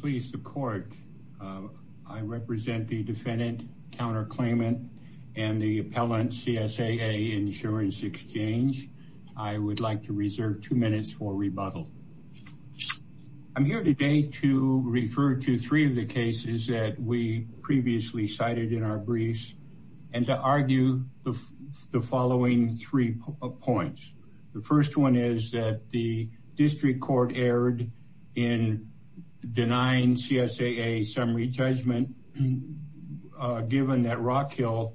Please the court. I represent the defendant counterclaimant and the appellant CSAA Insurance Exchange. I would like to reserve two minutes for rebuttal. I'm here today to refer to three of the cases that we previously cited in our briefs and to argue the following three points. The first one is that the district court erred in denying CSAA summary judgment given that Rockhill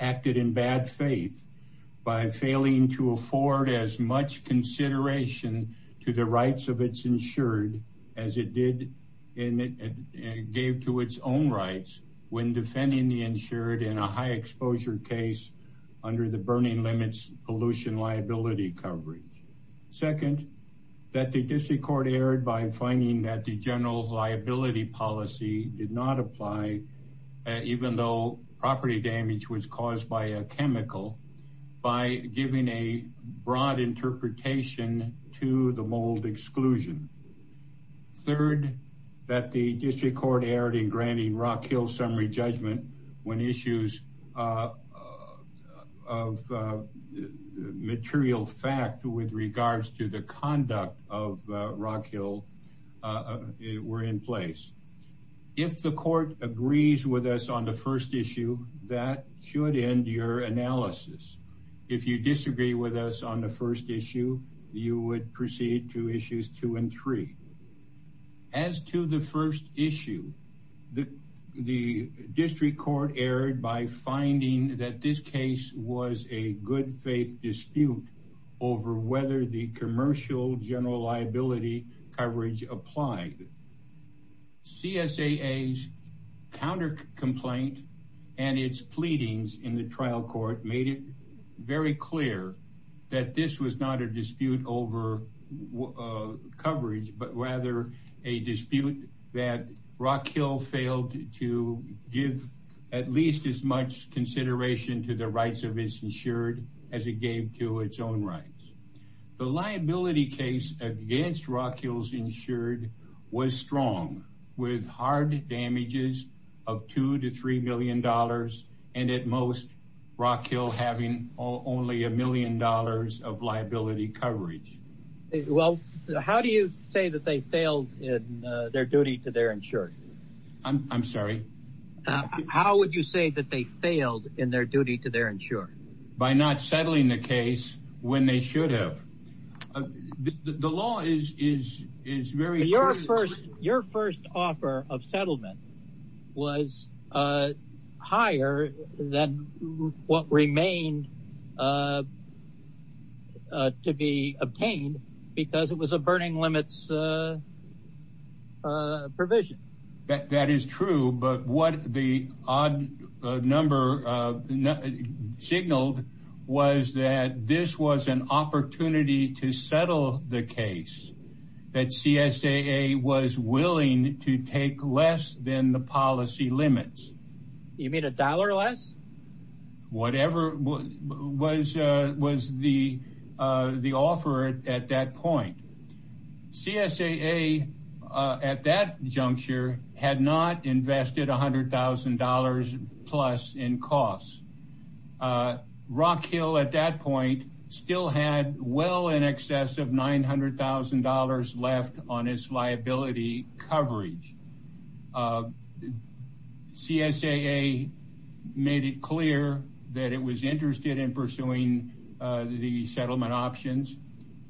acted in bad faith by failing to afford as much consideration to the rights of its insured as it did and it gave to its own rights when defending the insured in a high exposure case under the burning limits pollution liability coverage. Second, that the district court erred by finding that the general liability policy did not apply even though property damage was caused by a chemical by giving a broad interpretation to the mold exclusion. Third, that the district court erred in granting Rockhill summary judgment when of material fact with regards to the conduct of Rockhill were in place. If the court agrees with us on the first issue, that should end your analysis. If you disagree with us on the first issue, you would proceed to issues two and three. As to the first issue, the district court erred by finding that this case was a good faith dispute over whether the commercial general liability coverage applied. CSAA's counter complaint and its pleadings in the trial court made it very clear that this was not a dispute over coverage, but rather a dispute that Rockhill failed to give at least as much consideration to the rights of its insured as it gave to its own rights. The liability case against Rockhill's insured was strong with hard damages of two to $3 million. And at most, Rockhill having only a million dollars of liability coverage. Well, how do you say that they failed in their duty to their insured? I'm sorry? How would you say that they failed in their duty to their insured? By not settling the case when they should have. The law is very clear. Your first offer of settlement was higher than what remained to be obtained because it was a burning limits provision. That is true. But what the odd number signaled was that this was an willing to take less than the policy limits. You mean a dollar less? Whatever was the offer at that point. CSAA at that juncture had not invested $100,000 plus in costs. Rockhill at that point still had well in excess of $900,000 left on its liability coverage. CSAA made it clear that it was interested in pursuing the settlement options.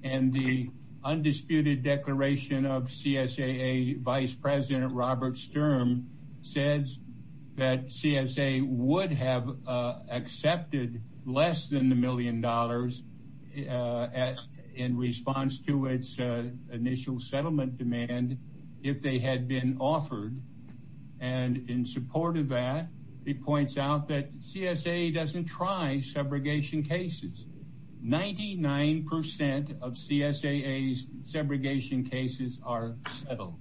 And the undisputed declaration of CSAA Vice President Robert Sturm says that CSAA would have accepted less than the $100,000,000 in response to its initial settlement demand if they had been offered. And in support of that, it points out that CSAA doesn't try segregation cases. Ninety nine percent of CSAA's segregation cases are settled.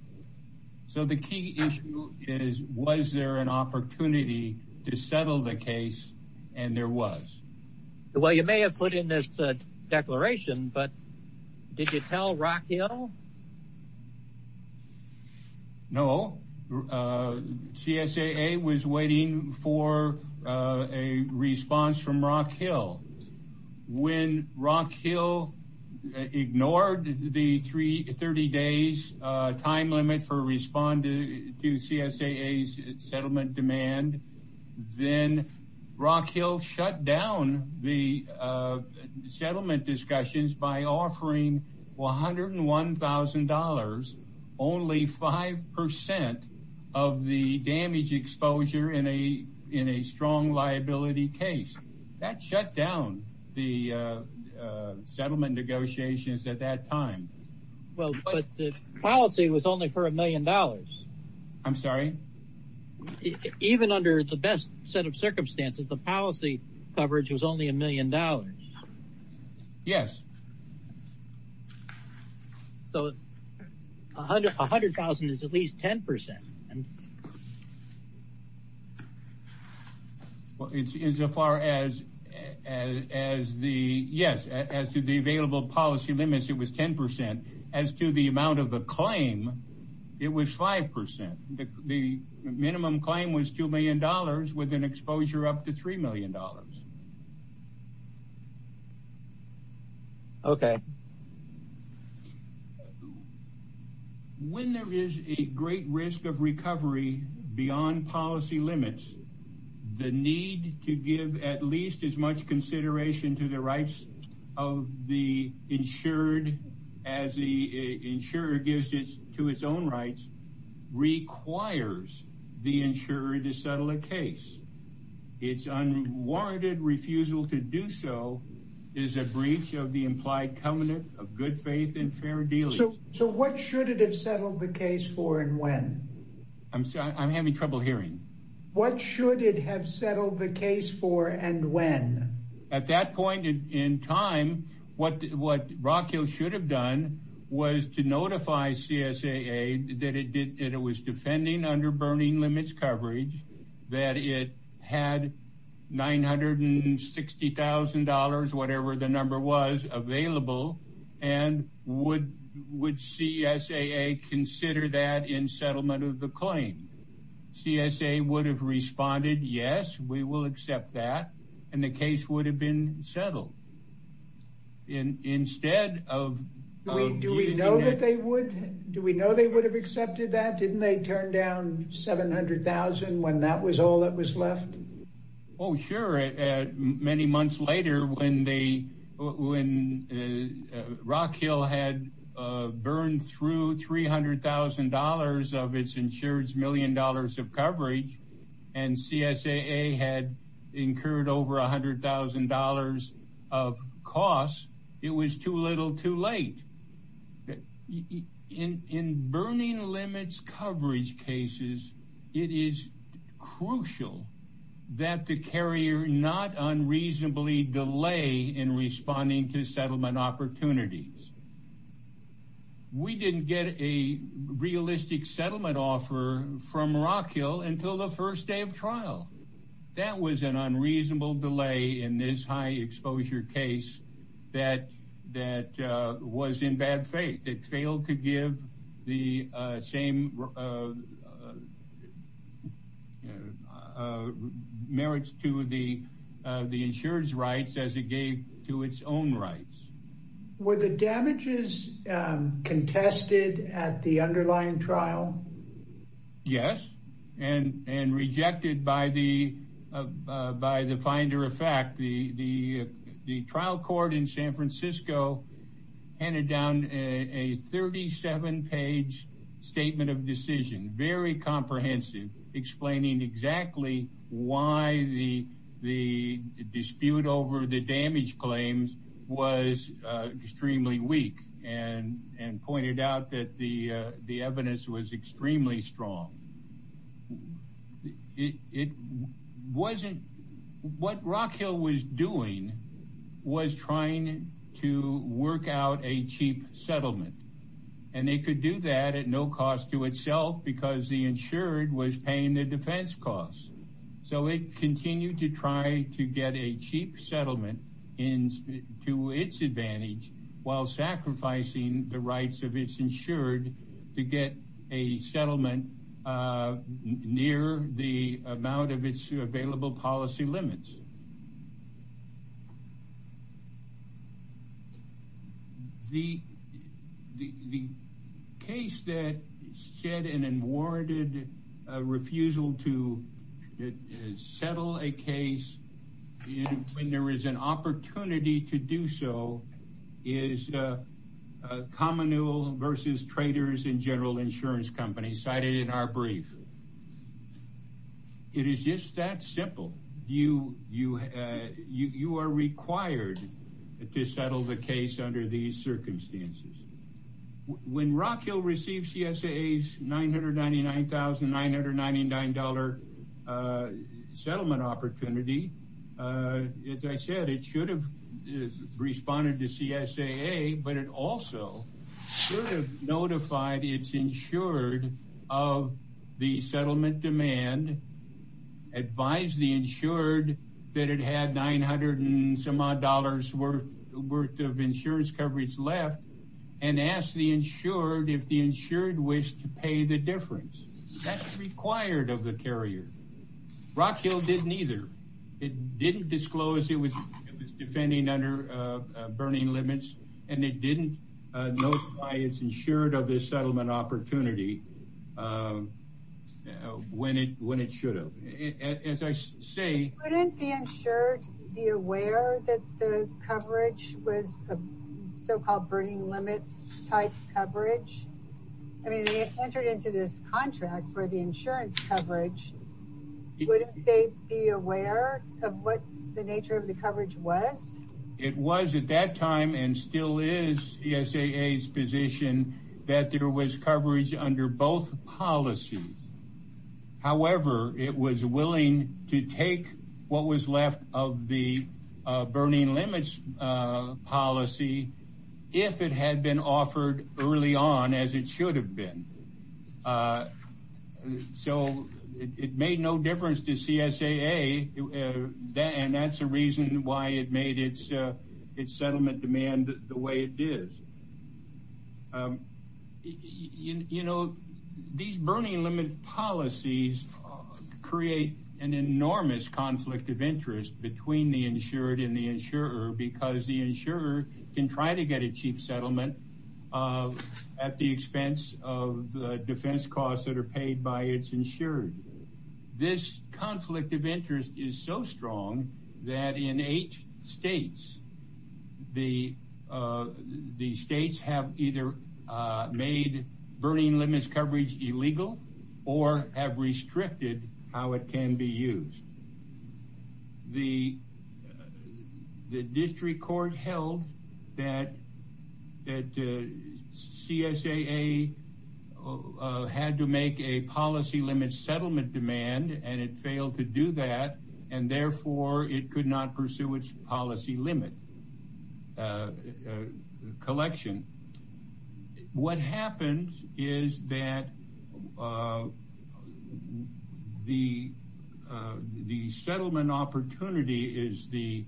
So the key issue is, was there an opportunity to settle the case? And there was. Well, you may have put in this declaration, but did you tell Rockhill? No, CSAA was waiting for a response from Rockhill. When Rockhill ignored the 30 days time limit for responding to CSAA's settlement demand, then Rockhill shut down the settlement discussions by offering $101,000, only five percent of the damage exposure in a strong liability case. That shut down the settlement negotiations at that time. Well, but the policy was only for a best set of circumstances. The policy coverage was only a million dollars. Yes. So a hundred thousand is at least 10 percent. Well, as far as the, yes, as to the available policy limits, it was 10 percent. As to the amount of the claim, it was five percent. The minimum claim was $2 million with an exposure up to $3 million. Okay. When there is a great risk of recovery beyond policy limits, the need to give at least as much consideration to the rights of the insured as the insurer gives to its own rights requires the insurer to settle a case. Its unwarranted refusal to do so is a breach of the implied covenant of good faith and fair dealings. So what should it have settled the case for and when? I'm having trouble hearing. What should it have settled the case for and when? At that time, CSAA would have responded, yes, we will accept that. And the case would have been settled. Do we know that they would? Do we know they would have accepted that? Didn't they turn down $700,000 when that was all that was left? Oh, sure. Many months later when Rock Hill had burned through $300,000 of its insured's million dollars of coverage and CSAA had incurred over $100,000 of costs, it was too little too late. In burning limits coverage cases, it is crucial that the carrier not unreasonably delay in responding to settlement opportunities. We didn't get a realistic settlement offer from Rock Hill until the first day of trial. That was an unreasonable delay in this high exposure case that was in bad faith. It failed to give the same merits to the insured's as it gave to its own rights. Were the damages contested at the underlying trial? Yes, and rejected by the finder of fact. The trial court in San Francisco handed down a 37 page statement of decision, very comprehensive, explaining exactly why the dispute over the damage claims was extremely weak and pointed out that the evidence was extremely strong. What Rock Hill was doing was trying to work out a cheap settlement, and they could do that at no cost to itself because the insured was paying the defense costs. So it continued to try to get a cheap settlement in to its advantage while sacrificing the rights of its insured to get a settlement near the amount of its available policy limits. The case that shed an unwarranted refusal to settle a case when there is an opportunity to do so is Commonweal versus Traders and General Insurance Company cited in our brief. It is just that simple. You are required to settle the case under these circumstances. When Rock Hill received CSAA's $999,999 settlement opportunity, as I said, it should have responded to CSAA, but it also should have notified its insured of the settlement demand, advised the insured that it had $900 and some odd worth of insurance coverage left, and asked the insured if the insured wished to pay the difference. That's required of the carrier. Rock Hill didn't either. It didn't disclose it was defending under burning limits, and it didn't notify its insured of this settlement opportunity when it should have. As I say... Wouldn't the insured be aware that the coverage was so-called burning limits type coverage? I mean, they entered into this contract for the insurance coverage. Wouldn't they be aware of what the nature of the coverage was? It was at that time and still is CSAA's position that there was coverage under both policies. However, it was willing to take what was left of the burning limits policy if it had been offered early on as it should have been. So it didn't create its settlement demand the way it is. You know, these burning limit policies create an enormous conflict of interest between the insured and the insurer because the insurer can try to get a cheap settlement at the expense of the defense costs that are paid by its insured. This conflict of interests between the insurers and the states. The states have either made burning limits coverage illegal or have restricted how it can be used. The district court held that CSAA had to make a policy limit settlement demand and it failed to do that. And therefore it could not pursue its policy limit collection. What happens is that the settlement opportunity is the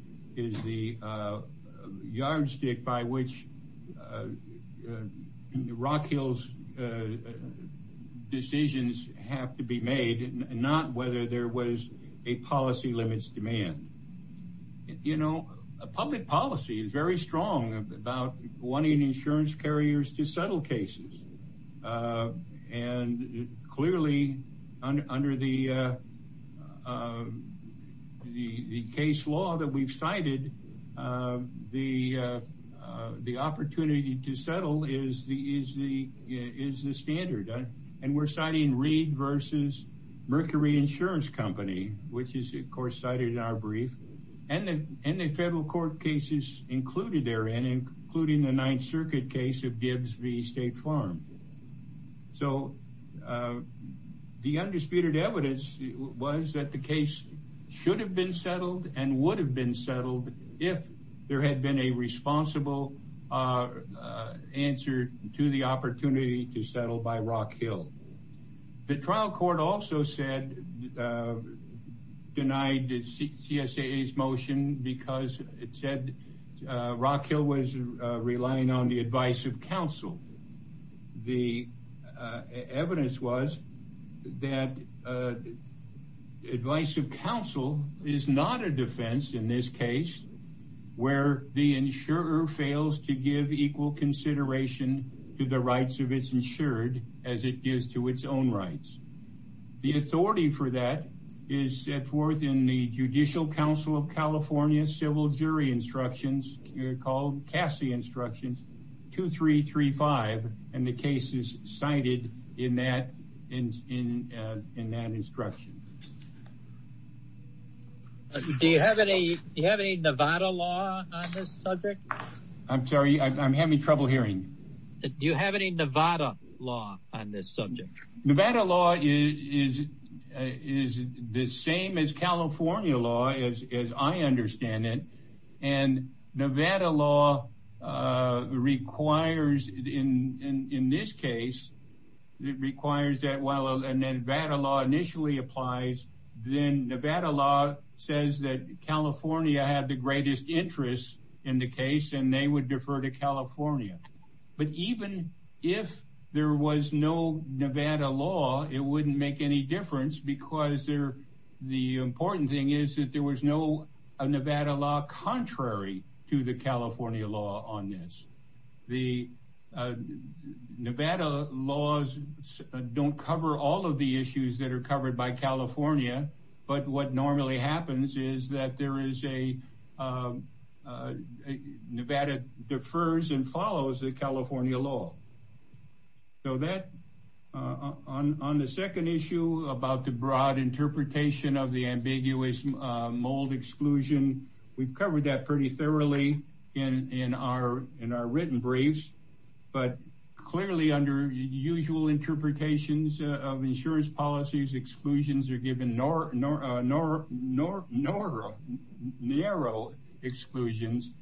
yardstick by which Rock Hill's decisions have to be made and not whether there was a policy limits demand. You know, public policy is very strong about wanting insurance carriers to settle cases. And clearly under the case law that we've cited, the opportunity to settle is the standard. And we're citing Reed versus Mercury Insurance Company, which is of course cited in our brief, and the federal court cases included therein, including the Ninth Circuit case of Dibbs v. State Farm. So the undisputed evidence was that the case should have been settled and would have been settled if there had been a responsible answer to the opportunity to settle by Rock Hill. The trial court also said, denied CSAA's motion because it said Rock Hill was relying on the advice of the insurer. This is not a defense in this case where the insurer fails to give equal consideration to the rights of its insured as it gives to its own rights. The authority for that is set forth in the Judicial Council of California Civil Jury Instructions, called Cassie Instructions 2335, and the case is cited in that instruction. Do you have any Nevada law on this subject? I'm sorry, I'm having trouble hearing. Do you have any Nevada law on this subject? Nevada law is the same as California law as I understand it. And Nevada law requires, in this case, it requires that while Nevada law initially applies, then Nevada law says that California had the greatest interest in the case and they would defer to California. But even if there was no Nevada law, it wouldn't make any difference because the important thing is that there was no Nevada law contrary to the California law on this. The Nevada laws don't cover all of the California, but what normally happens is that there is a Nevada defers and follows the California law. So that on the second issue about the broad interpretation of the ambiguous mold exclusion, we've covered that pretty thoroughly in our written briefs, but clearly under usual interpretations of insurance policies, exclusions are given narrow exclusions,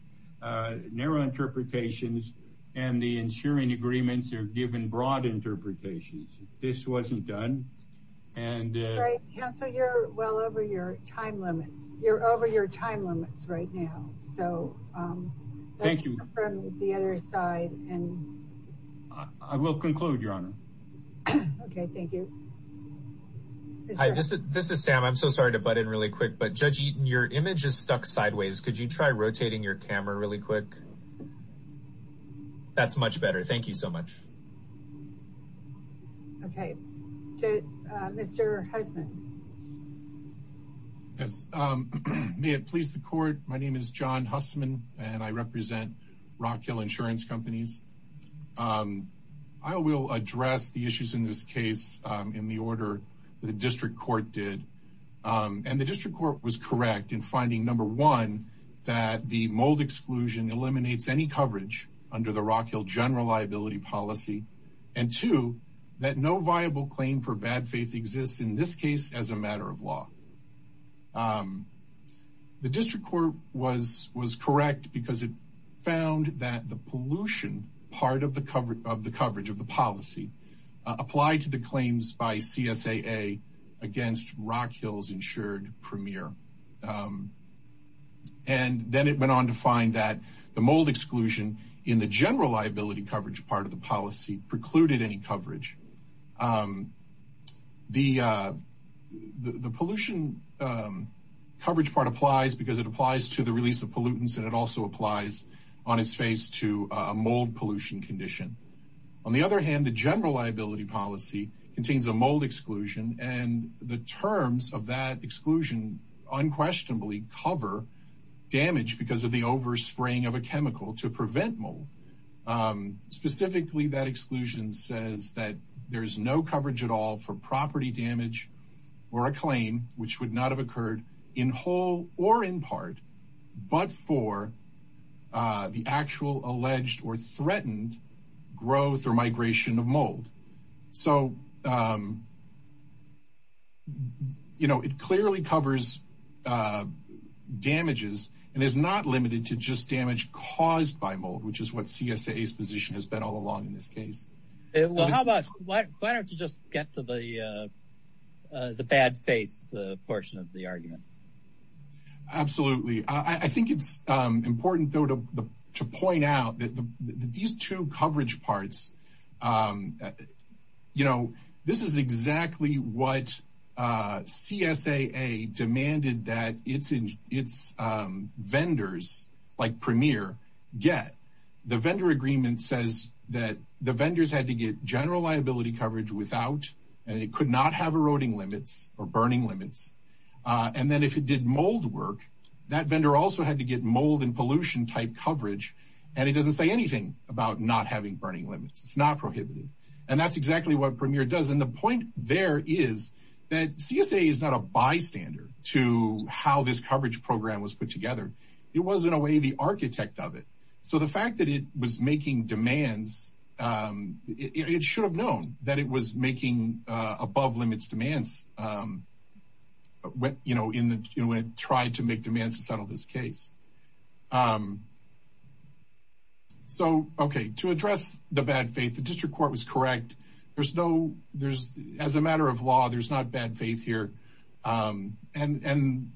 narrow interpretations, and the insuring agreements are given broad interpretations. This wasn't done. And Council, you're well over your time limits. You're over your time limits right now. So thank you from the other side. And I will conclude, Your Honor. Okay, thank you. Hi, this is Sam. I'm so sorry to butt in really quick, but Judge Eaton, your image is stuck sideways. Could you try rotating your camera really quick? That's much better. Thank you so much. Okay. Mr. Hussman. Yes. May it please the court. My name is John Hussman, and I represent Rock Hill Insurance Companies. I will address the issues in this case in the order the district court did. And the district court was correct in finding number one, that the mold exclusion eliminates any coverage under the Rock Hill general liability policy, and two, that no viable claim for bad faith exists in this case as a matter of law. Um, the district court was was correct because it found that the pollution part of the coverage of the policy applied to the claims by CSAA against Rock Hills Insured Premier. Um, and then it went on to find that the mold exclusion in the general liability coverage part of the policy precluded any coverage. Um, the the pollution, um, coverage part applies because it applies to the release of pollutants, and it also applies on its face to a mold pollution condition. On the other hand, the general liability policy contains a mold exclusion, and the terms of that exclusion unquestionably cover damage because of the over spraying of a chemical to prevent mold. Um, specifically, that property damage or a claim which would not have occurred in whole or in part, but for the actual alleged or threatened growth or migration of mold. So, um, you know, it clearly covers, uh, damages and is not limited to just damage caused by mold, which is what CSAA's position has been all along in this case. Well, how about why? Why don't you just get to the, uh, the bad faith portion of the argument? Absolutely. I think it's important, though, to point out that these two coverage parts, um, you know, this is exactly what, uh, CSAA demanded that it's in its vendors like Premier get. The vendor agreement says that the vendors had to get general liability coverage without and it could not have eroding limits or burning limits. And then if it did mold work, that vendor also had to get mold and pollution type coverage, and it doesn't say anything about not having burning limits. It's not prohibited, and that's exactly what the point there is that CSAA is not a bystander to how this coverage program was put together. It was, in a way, the architect of it. So the fact that it was making demands, um, it should have known that it was making above limits demands. Um, you know, in the, you know, it tried to make demands to settle this case. Um, so, okay, to address the bad faith, the district court was correct. There's no there's as a matter of law, there's not bad faith here. Um, and and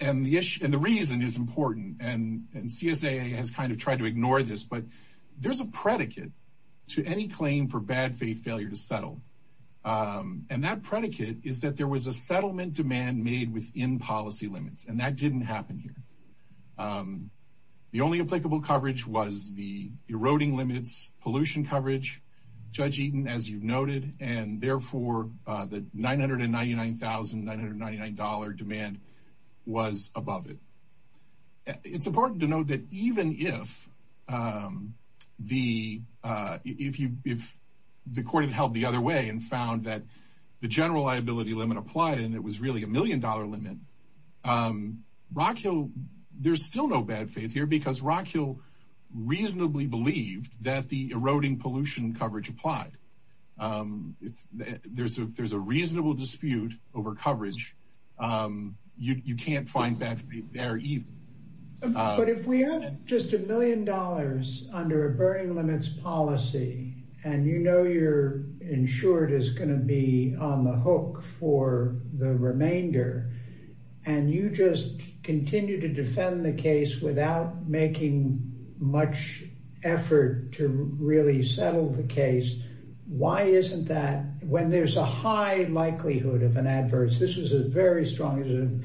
and the issue and the reason is important. And CSAA has kind of tried to ignore this. But there's a predicate to any claim for bad faith failure to settle. Um, and that predicate is that there was a settlement demand made within policy limits, and that didn't happen here. Um, the only applicable coverage was the and therefore the $999,999 demand was above it. It's important to know that even if, um, the if you if the court held the other way and found that the general liability limit applied, and it was really a million dollar limit, um, Rockhill, there's still no bad faith here because Rockhill reasonably believed that the eroding pollution coverage applied. Um, there's a reasonable dispute over coverage. Um, you can't find that there either. But if we have just a million dollars under a burning limits policy, and you know you're insured is going to be on the hook for the remainder, and you just effort to really settle the case. Why isn't that when there's a high likelihood of an adverse? This was a very strong.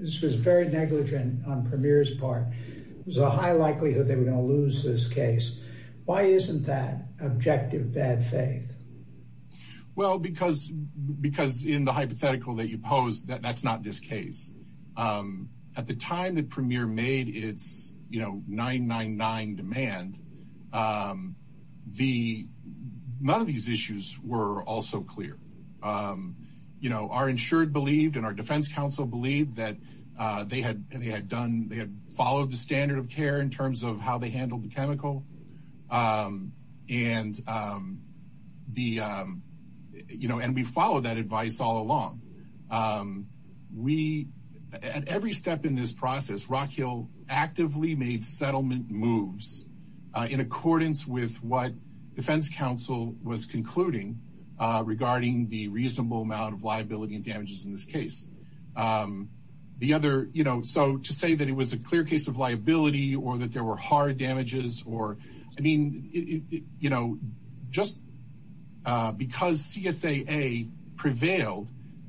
This was very negligent on Premier's part. It was a high likelihood they were gonna lose this case. Why isn't that objective bad faith? Well, because because in the hypothetical that you pose that that's not this case. Um, at the time, the premier made it's, you know, 999 demand. Um, the none of these issues were also clear. Um, you know, are insured believed in our Defense Council believed that they had. They had done. They had followed the standard of care in terms of how they handled the chemical. Um, and, um, the, um, you know, and we follow that advice all along. Um, we at every step in this process, Rock Hill actively made settlement moves in accordance with what Defense Council was concluding regarding the reasonable amount of liability and damages in this case. Um, the other, you know, so to say that it was a clear case of liability or that you know, just because C. S. A. A. Prevailed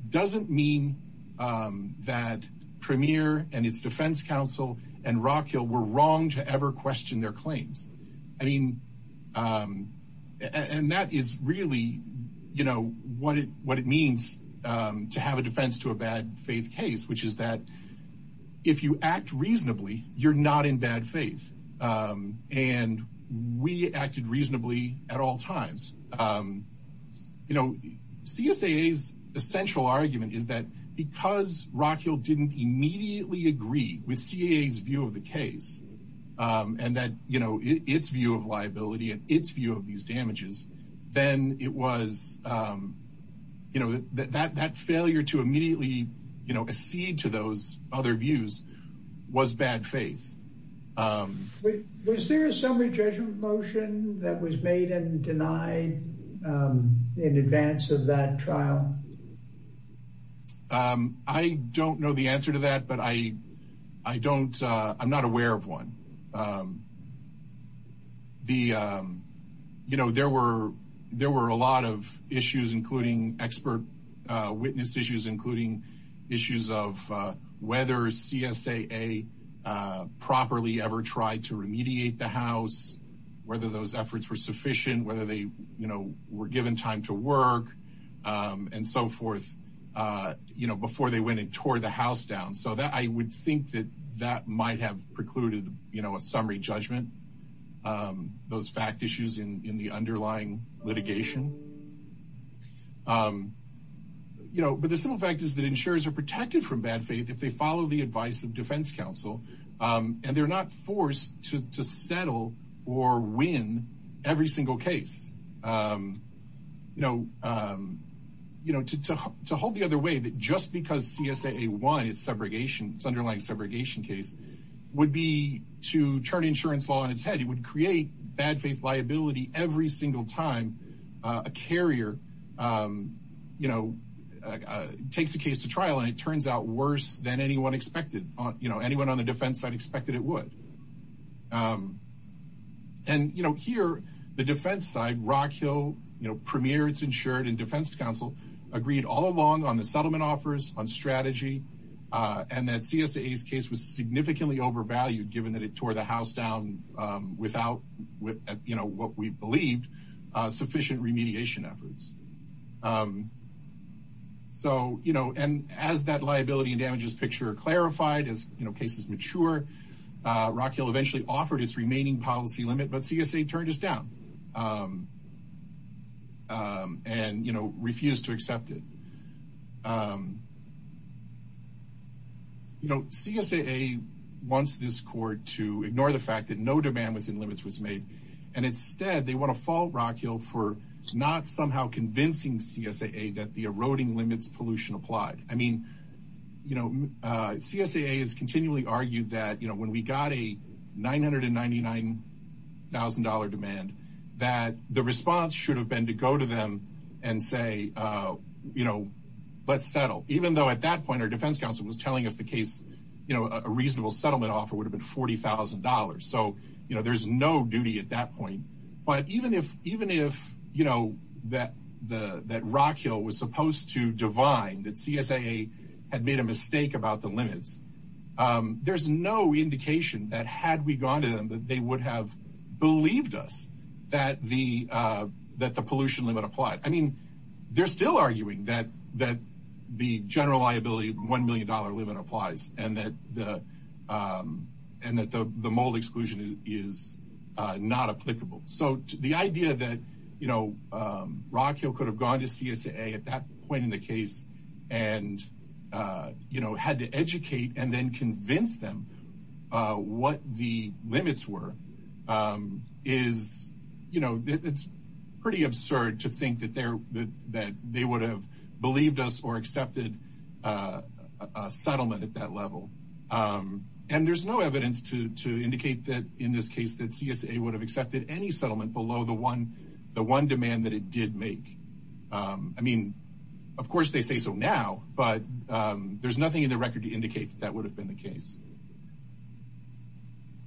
doesn't mean that Premier and its Defense Council and Rock Hill were wrong to ever question their claims. I mean, um, and that is really, you know what? What it means to have a defense to a bad faith case, which is that if you act reasonably, you're not in bad faith. Um, and we acted reasonably at all times. Um, you know, C. S. A. A.'s essential argument is that because Rock Hill didn't immediately agree with C. A. A.'s view of the case, um, and that, you know, its view of liability and its view of these damages, then it was, um, you know, that that that failure to was there a summary judgment motion that was made and denied, um, in advance of that trial? Um, I don't know the answer to that, but I I don't. I'm not aware of one. Um, the, um, you know, there were there were a lot of issues, including expert witness issues, including issues of whether C. S. A. A. Uh, properly ever tried to remediate the house, whether those efforts were sufficient, whether they, you know, were given time to work, um, and so forth, uh, you know, before they went and tore the house down so that I would think that that might have precluded, you know, a summary judgment. Um, those fact issues in in the you know, but the simple fact is that insurers are protected from bad faith if they follow the advice of Defense Council. Um, and they're not forced to settle or win every single case. Um, you know, um, you know, to hold the other way that just because C. S. A. A. One is segregation. It's underlying segregation case would be to turn insurance law on its head. It would takes a case to trial, and it turns out worse than anyone expected. You know, anyone on the defense side expected it would. Um, and, you know, here the defense side, Rock Hill Premier, it's insured and Defense Council agreed all along on the settlement offers on strategy on that C. S. A. A. S. Case was significantly overvalued, given that it tore the house down without what you know what we believed sufficient remediation efforts. Um, so, you know, and as that liability and damages picture clarified, as cases mature, Rock Hill eventually offered its remaining policy limit. But C. S. A. Turned us down. Um, um, and, you know, refused to accept it. Um, you know, C. S. A. A. Once this court to ignore the fact that no demand within limits was made, and instead they want to fall Rock Hill for not somehow convincing C. S. A. A. That the eroding limits pollution applied. I mean, you know, C. S. A. A. Is continually argued that when we got a $999,000 demand that the response should have been to go to them and say, you know, let's settle, even though at that point, our defense council was telling us the case. You know, a reasonable settlement offer would have been $40,000. So, you know, there's no duty at that point. But even if even if you know that the that Rock Hill was supposed to divine that C. S. A. A. Had made a mistake about the limits. Um, there's no indication that had we gone to them that they would have believed us that the that the pollution limit applied. I mean, they're still arguing that that the general liability $1 million limit applies and that the, um, and that the mold exclusion is not applicable. So the idea that, you know, um, Rock Hill could have gone to C. S. A. A. At that point in the case and, uh, you know, had to educate and then convince them what the limits were. Um, is, you know, it's pretty absurd to there that that they would have believed us or accepted, uh, settlement at that level. Um, and there's no evidence to indicate that in this case that C. S. A. Would have accepted any settlement below the one the one demand that it did make. Um, I mean, of course, they say so now, but, um, there's nothing in the record to indicate that would have been the case.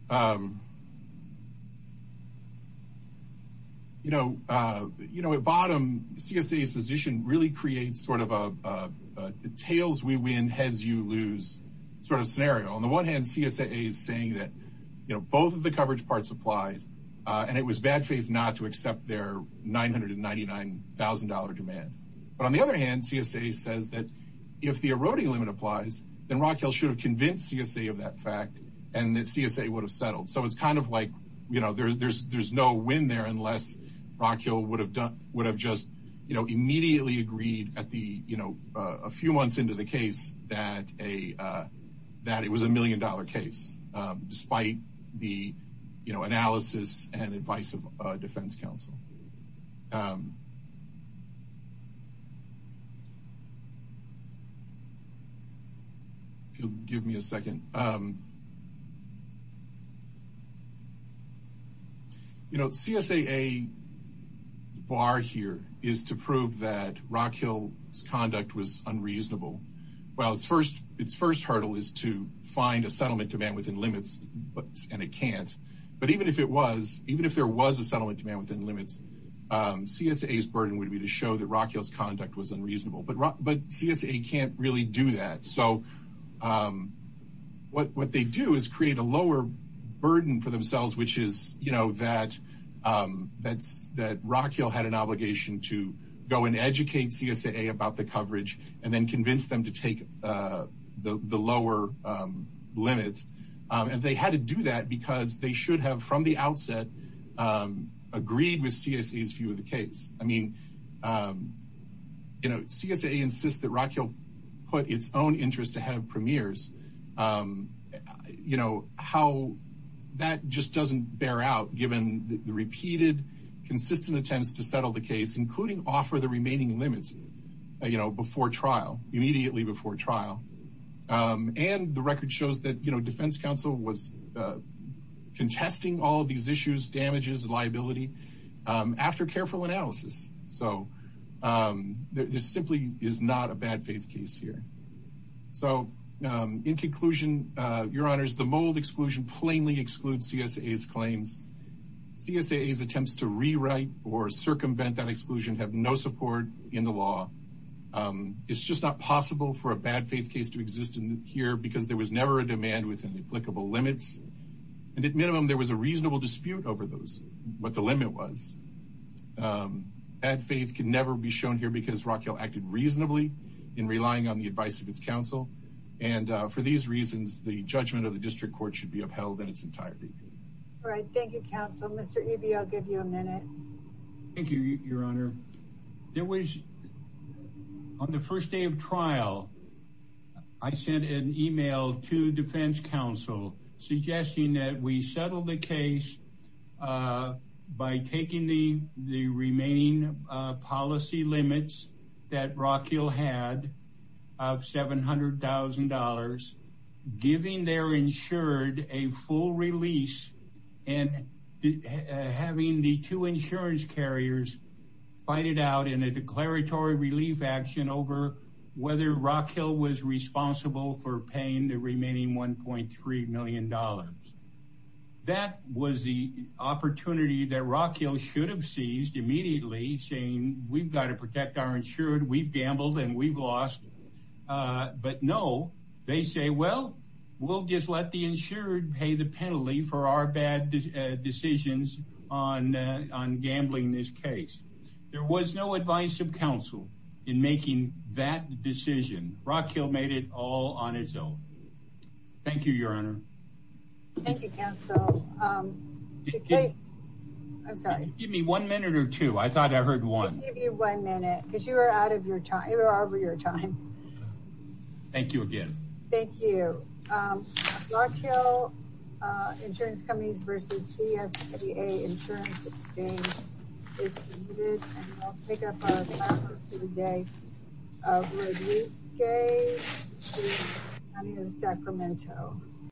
Um, you know, uh, you know, a bottom C. S. A.'s position really creates sort of a, uh, tails. We win heads. You lose sort of scenario. On the one hand, C. S. A. Is saying that, you know, both of the coverage parts applies on. It was bad faith not to accept their $999,000 demand. But on the other hand, C. S. A. Says that if the eroding limit applies, then Rock Hill should convince C. S. A. Of that fact, and that C. S. A. Would have settled. So it's kind of like, you know, there's there's no win there unless Rock Hill would have done would have just, you know, immediately agreed at the, you know, a few months into the case that a, uh, that it was a million dollar case, despite the, you know, analysis and advice of Defense Council. Um, yeah. Give me a second. Um, you know, C. S. A. A. Bar here is to prove that Rock Hill's conduct was unreasonable. Well, it's first its first hurdle is to find a settlement demand within limits, and it can't. But even if it was even if there was a to show that Rock Hill's conduct was unreasonable, but but C. S. A. Can't really do that. So, um, what what they do is create a lower burden for themselves, which is, you know, that, um, that's that Rock Hill had an obligation to go and educate C. S. A. A. About the coverage and then convince them to take, uh, the lower, um, limit. And they had to do that because they Um, you know, C. S. A. Insist that Rock Hill put its own interest to have premieres. Um, you know how that just doesn't bear out, given the repeated, consistent attempts to settle the case, including offer the remaining limits, you know, before trial immediately before trial. Um, and the record shows that, you know, Defense Council was, uh, contesting all these issues. Damages liability after careful analysis. So, um, this simply is not a bad faith case here. So, um, in conclusion, your honors, the mold exclusion plainly excludes C. S. A. S. Claims C. S. A. A. S. Attempts to rewrite or circumvent that exclusion have no support in the law. Um, it's just not possible for a bad faith case to exist in here because there was never a demand within the applicable limits. And at minimum, there was a reasonable dispute over those what the limit was. Um, at faith can never be shown here because Rock Hill acted reasonably in relying on the advice of its counsel. And for these reasons, the judgment of the district court should be upheld in its entirety. All right. Thank you, Counsel. Mr E. B. I'll give you a minute. Thank you, Your Honor. There was on the first day of trial. I was charged with a bad faith case, uh, by taking the remaining policy limits that Rock Hill had of $700,000, giving their insured a full release and having the two insurance carriers fight it out in a declaratory relief action over whether Rock Hill was responsible for paying the remaining $1.3 million. That was the opportunity that Rock Hill should have seized immediately saying we've got to protect our insured. We've gambled and we've lost. Uh, but no, they say, Well, we'll just let the insured pay the penalty for our bad decisions on on gambling. This case. There was no advice of counsel in making that decision. Rock Hill made it all on its own. Thank you, Your Honor. Thank you, Counsel. Um, okay. I'm sorry. Give me one minute or two. I thought I heard one. Give you one minute because you were out of your time. You are over your time. Thank you again. Thank you. Um, Rock Hill, uh, insurance companies versus C. S. P. A. Insurance. It's needed to pick up a day. Uh, okay. Sacramento.